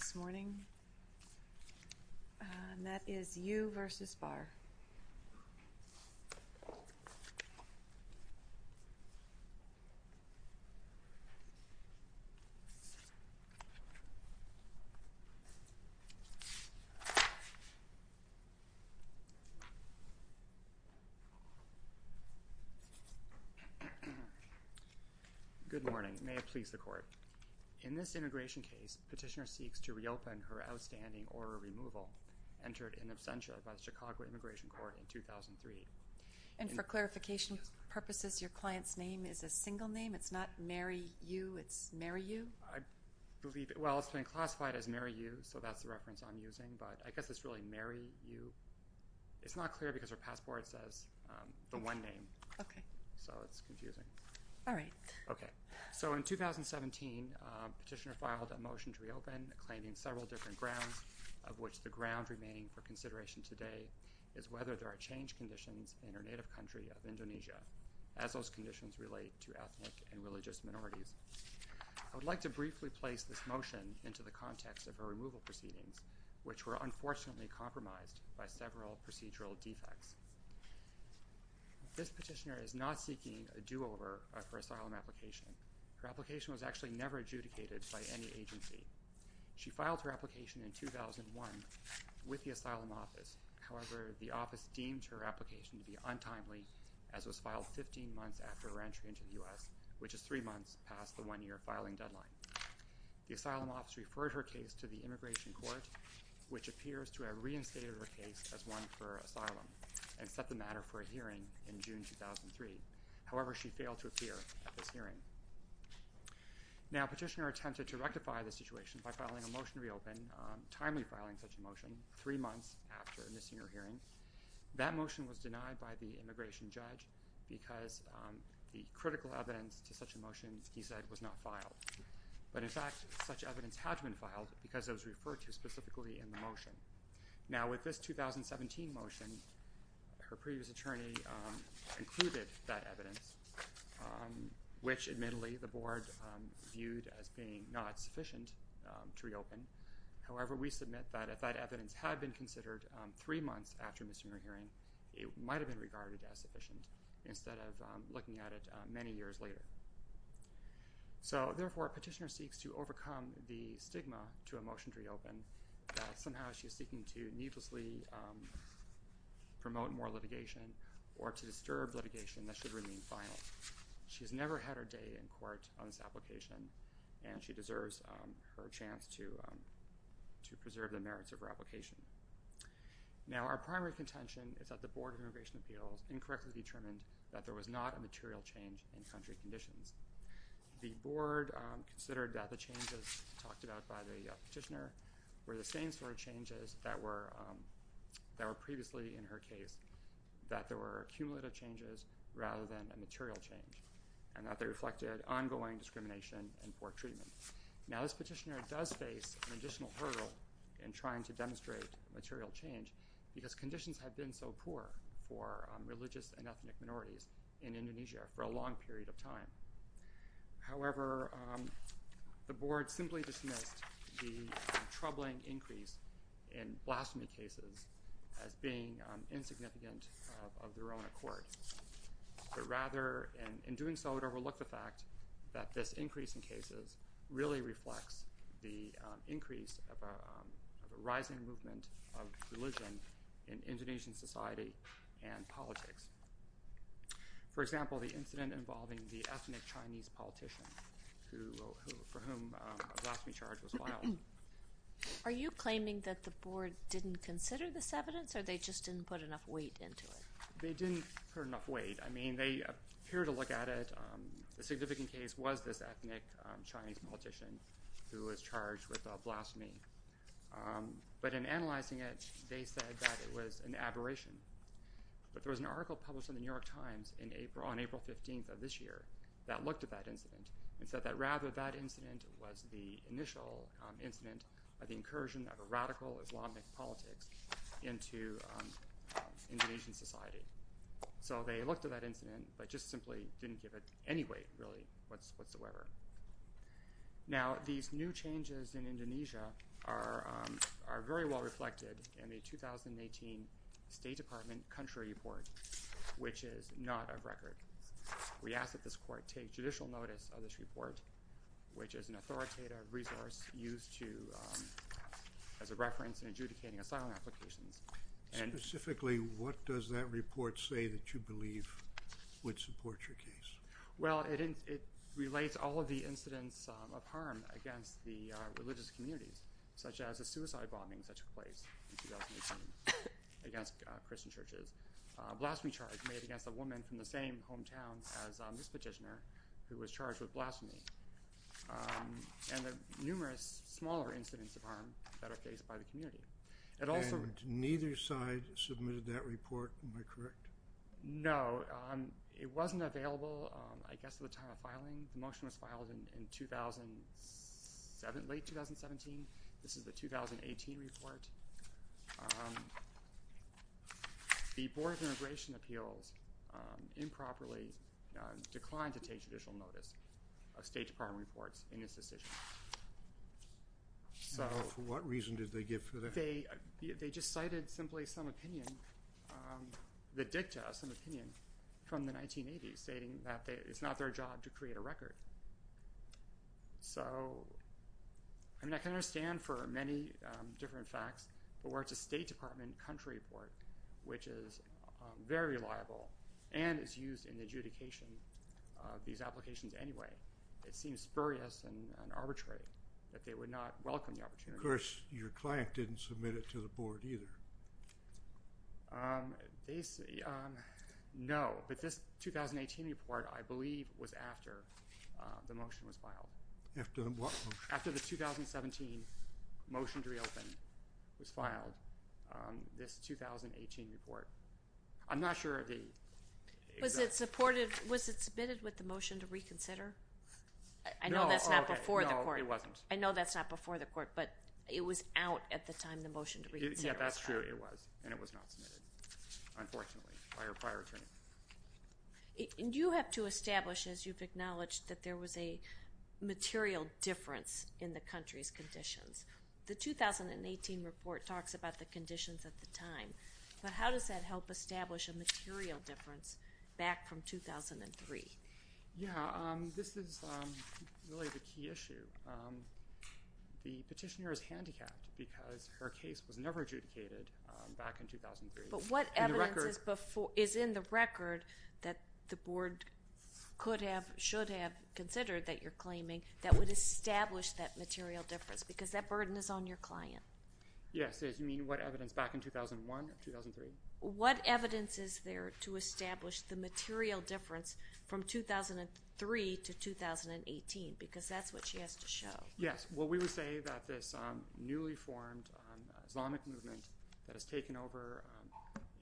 Good morning. May it please the court. In this integration case, petitioner seeks to reopen her outstanding order removal entered in absentia by the Chicago Immigration Court in 2003. And for clarification purposes, your client's name is a single name? It's not Meri Yu? It's Meri Yu? I believe, well, it's been classified as Meri Yu, so that's the reference I'm using, but I guess it's really Meri Yu. It's not clear because her passport says the one name. Okay. So it's confusing. All right. Okay. So in 2017, petitioner filed a motion to reopen claiming several different grounds, of which the ground remaining for consideration today is whether there are change conditions in her native country of Indonesia as those conditions relate to ethnic and religious minorities. I would like to briefly place this motion into the context of her removal proceedings, which were unfortunately compromised by several procedural defects. This petitioner is not seeking a do-over for asylum application. Her filed her application in 2001 with the asylum office. However, the office deemed her application to be untimely, as was filed 15 months after her entry into the U.S., which is three months past the one-year filing deadline. The asylum office referred her case to the Immigration Court, which appears to have reinstated her case as one for asylum and set the matter for a hearing in June 2003. However, she failed to appear at this hearing. Now, petitioner attempted to bring a motion to reopen, timely filing such a motion, three months after missing her hearing. That motion was denied by the immigration judge because the critical evidence to such a motion, he said, was not filed. But in fact, such evidence had been filed because it was referred to specifically in the motion. Now, with this 2017 motion, her previous attorney included that evidence, which admittedly the board viewed as being not sufficient to reopen. However, we submit that if that evidence had been considered three months after missing her hearing, it might have been regarded as sufficient instead of looking at it many years later. So therefore, petitioner seeks to overcome the stigma to a motion to reopen. Somehow, she's seeking to needlessly promote more litigation or to disturb litigation that should remain final. She has never had a day in court on this application, and she deserves her chance to preserve the merits of her application. Now, our primary contention is that the Board of Immigration Appeals incorrectly determined that there was not a material change in country conditions. The board considered that the changes talked about by the petitioner were the same sort of changes that were previously in her case, that there were cumulative changes rather than a material change, and that they reflected ongoing discrimination and poor treatment. Now, this petitioner does face an additional hurdle in trying to demonstrate material change because conditions have been so poor for religious and ethnic minorities in Indonesia for a long period of time. However, the board simply dismissed the troubling increase in blasphemy cases as being insignificant of their own accord, but rather, in doing so, it overlooked the fact that this increase in cases really reflects the increase of a rising movement of religion in Indonesian society and politics. For example, the incident involving the ethnic Chinese politician for whom a blasphemy charge was filed. Are you claiming that the board didn't consider this evidence or they just didn't put enough weight into it? They didn't put enough weight. I mean, they appeared to look at it. The significant case was this ethnic Chinese politician who was charged with blasphemy, but in analyzing it, they said that it was an aberration. But there was an article published in the New York Times on April 15th of this year that looked at that incident and said that rather that incident was the initial incident of the So, they looked at that incident, but just simply didn't give it any weight really whatsoever. Now, these new changes in Indonesia are very well reflected in the 2018 State Department country report, which is not of record. We ask that this court take judicial notice of this report, which is an authoritative resource used as a reference in adjudicating asylum applications. Specifically, what does that report say that you believe would support your case? Well, it relates all of the incidents of harm against the religious communities, such as a suicide bombing that took place in 2018 against Christian churches, a blasphemy charge made against a woman from the same hometown as this petitioner who was charged with blasphemy, and the numerous smaller incidents of harm that are faced by the community. And neither side submitted that report, am I correct? No, it wasn't available, I guess, at the time of filing. The motion was filed in 2007, late 2017. This is the 2018 report. The Board of Immigration Appeals improperly declined to take judicial notice of State Department country report. For what reason did they give for that? They just cited simply some opinion, the dicta of some opinion from the 1980s stating that it's not their job to create a record. So, I mean, I can understand for many different facts, but where it's a State Department country report, which is very reliable and is used in adjudication of these applications anyway, it seems spurious and arbitrary that they would not welcome the opportunity. Of course, your client didn't submit it to the board either. No, but this 2018 report, I believe, was after the motion was filed. After what? After the 2017 motion to reopen was filed, this 2018 report. I'm not sure if Was it supported, was it submitted with the motion to reconsider? I know that's not before the court. I know that's not before the court, but it was out at the time the motion to reconsider was filed. Yeah, that's true, it was, and it was not submitted, unfortunately, by our prior attorney. You have to establish, as you've acknowledged, that there was a material difference in the country's conditions. The 2018 report talks about the difference back from 2003. Yeah, this is really the key issue. The petitioner is handicapped because her case was never adjudicated back in 2003. But what evidence is in the record that the board could have, should have, considered that you're claiming that would establish that material difference because that burden is on your client. Yes, you mean what evidence back in 2001 or 2003? What evidence is there to establish the material difference from 2003 to 2018? Because that's what she has to show. Yes, well we would say that this newly formed Islamic movement that has taken over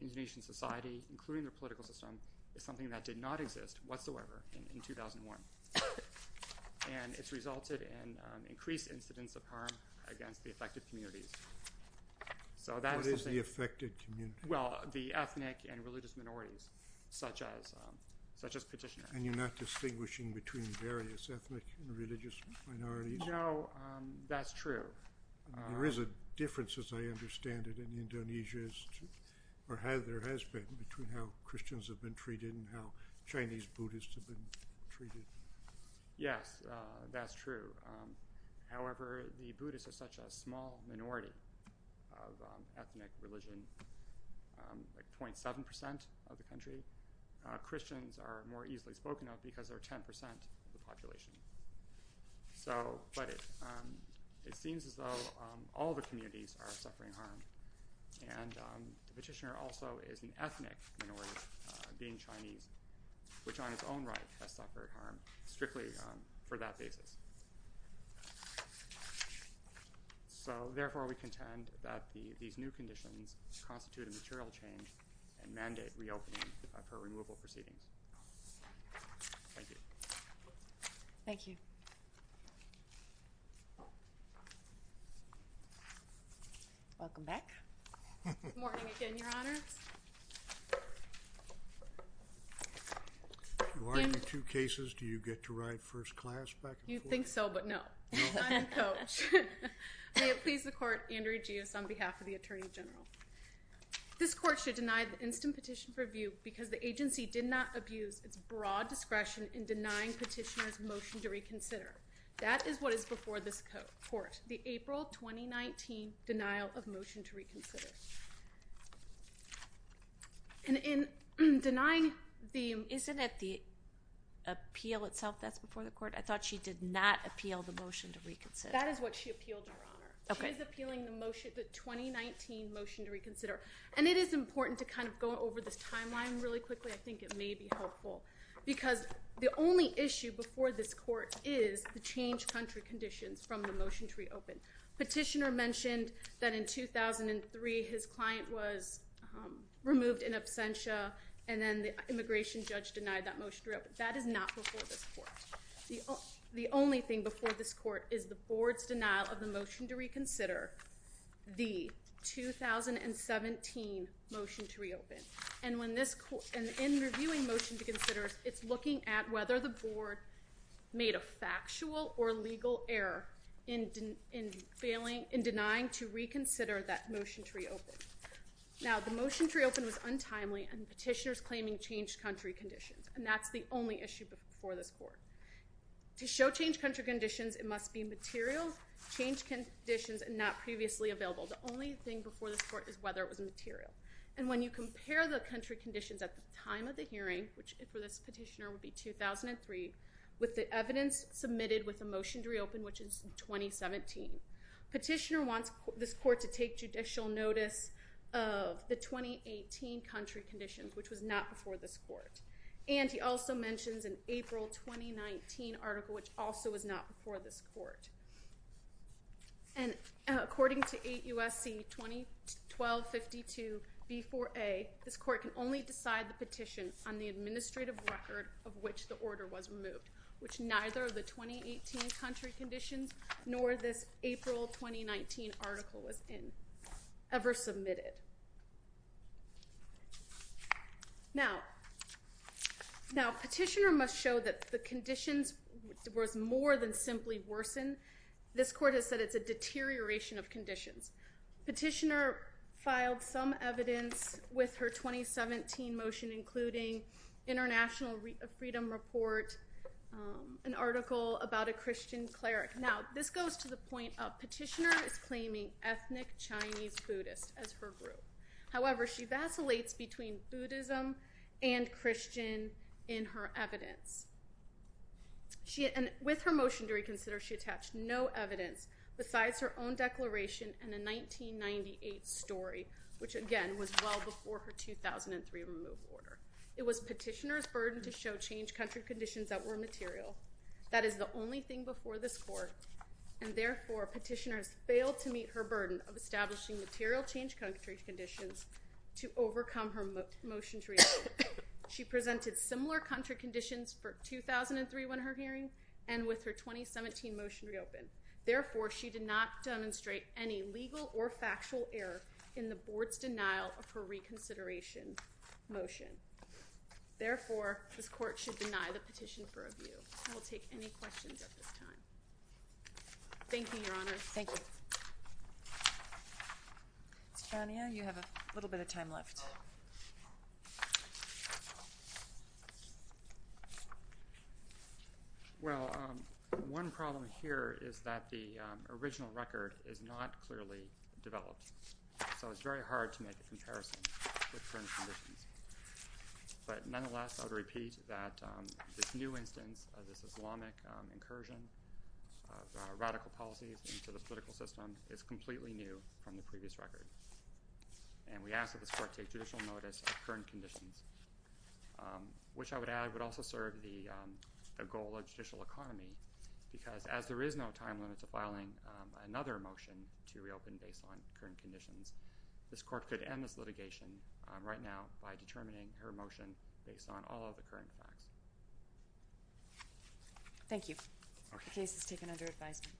Indonesian society, including their political system, is something that did not exist whatsoever in 2001. And it's resulted in increased incidents of harm against the affected communities. So What is the affected community? Well, the ethnic and religious minorities, such as such as petitioner. And you're not distinguishing between various ethnic and religious minorities? No, that's true. There is a difference, as I understand it, in Indonesia's, or has, there has been, between how Christians have been treated and how Chinese Buddhists have been treated. Yes, that's true. However, the ethnic religion, like 27% of the country, Christians are more easily spoken of because they're 10% of the population. So, but it seems as though all the communities are suffering harm. And the petitioner also is an ethnic minority, being Chinese, which on its own right has suffered harm, strictly for that basis. So Welcome back. Good morning again, Your Honors. You argue two cases, do you get to ride first class back and forth? You'd think so, but no. I'm the coach. May it please the court, Andrea Gios on behalf of the Attorney General. This court should deny the instant petition for review because the agency did not abuse its broad discretion in denying petitioners motion to reconsider. That is what is before this court, the April 2019 denial of motion to reconsider. And in denying the Isn't it the appeal itself that's before the court? I thought she did not appeal the motion to reconsider. That is what she appealed, Your Honor. Okay. She is appealing the motion, the 2019 motion to reconsider. And it is important to kind of go over this timeline really quickly. I think it may be helpful because the only issue before this court is the change country conditions from the motion to reopen. Petitioner mentioned that in 2003 his client was removed in absentia and then the immigration judge denied that motion to reopen. That is not before this court. The only thing before this court is the board's denial of the motion to reconsider, the 2017 motion to reopen. And when this court, in reviewing motion to consider, it's looking at whether the board made a factual or legal error in failing, in denying to reconsider that motion to reopen. Now the motion to reopen was untimely and petitioners claiming changed country conditions and that's the only issue before this court. To show changed country conditions it must be material, changed conditions and not previously available. The only thing before this court is whether it was material. And when you compare the country conditions at the time of the hearing, which for this petitioner would be 2003, with the evidence submitted with a motion to reopen, which is 2017, petitioner wants this court to take judicial notice of the 2018 country conditions, which was not before this court. And he also mentions an April 2019 article which also was not before this court. And according to 8 U.S.C. 2012-52 B4A, this court can only decide the petition on the administrative record of which the order was removed, which neither of the 2018 country conditions nor this April 2019 article was ever submitted. Now petitioner must show that the conditions was more than simply worsen. This court has said it's a deterioration of conditions. Petitioner filed some evidence with her 2017 motion including International Freedom Report, an article about a Christian cleric. Now this goes to the point of petitioner is claiming ethnic Chinese Buddhist as her group. However, she vacillates between Buddhism and Christian in her evidence. With her motion to reconsider, she attached no evidence besides her own declaration and a 1998 story, which again was well before her 2003 remove order. It was petitioner's burden to show change country conditions that were material. That is the only thing before this court and therefore petitioners failed to meet her burden of establishing material change country conditions to overcome her motion to reopen. She presented similar country conditions for 2003 when her hearing and with her 2017 motion to reopen. Therefore, she did not demonstrate any legal or factual error in the board's denial of her reconsideration motion. Therefore, this court should deny the petition for review. I will take any questions at this time. Thank you, Your Honor. Thank you. Mr. Chania, you have a little bit of time left. Well, one problem here is that the original record is not clearly developed so it's very hard to make a comparison. But nonetheless, I would repeat that this new instance of this Islamic incursion of radical policies into the political system is completely new from the previous record. And we ask that this court take judicial notice of current conditions, which I would add would also serve the goal of judicial economy because as there is no time limit to conditions, this court could end this litigation right now by determining her motion based on all of the current facts. Thank you. The case is taken under advisement.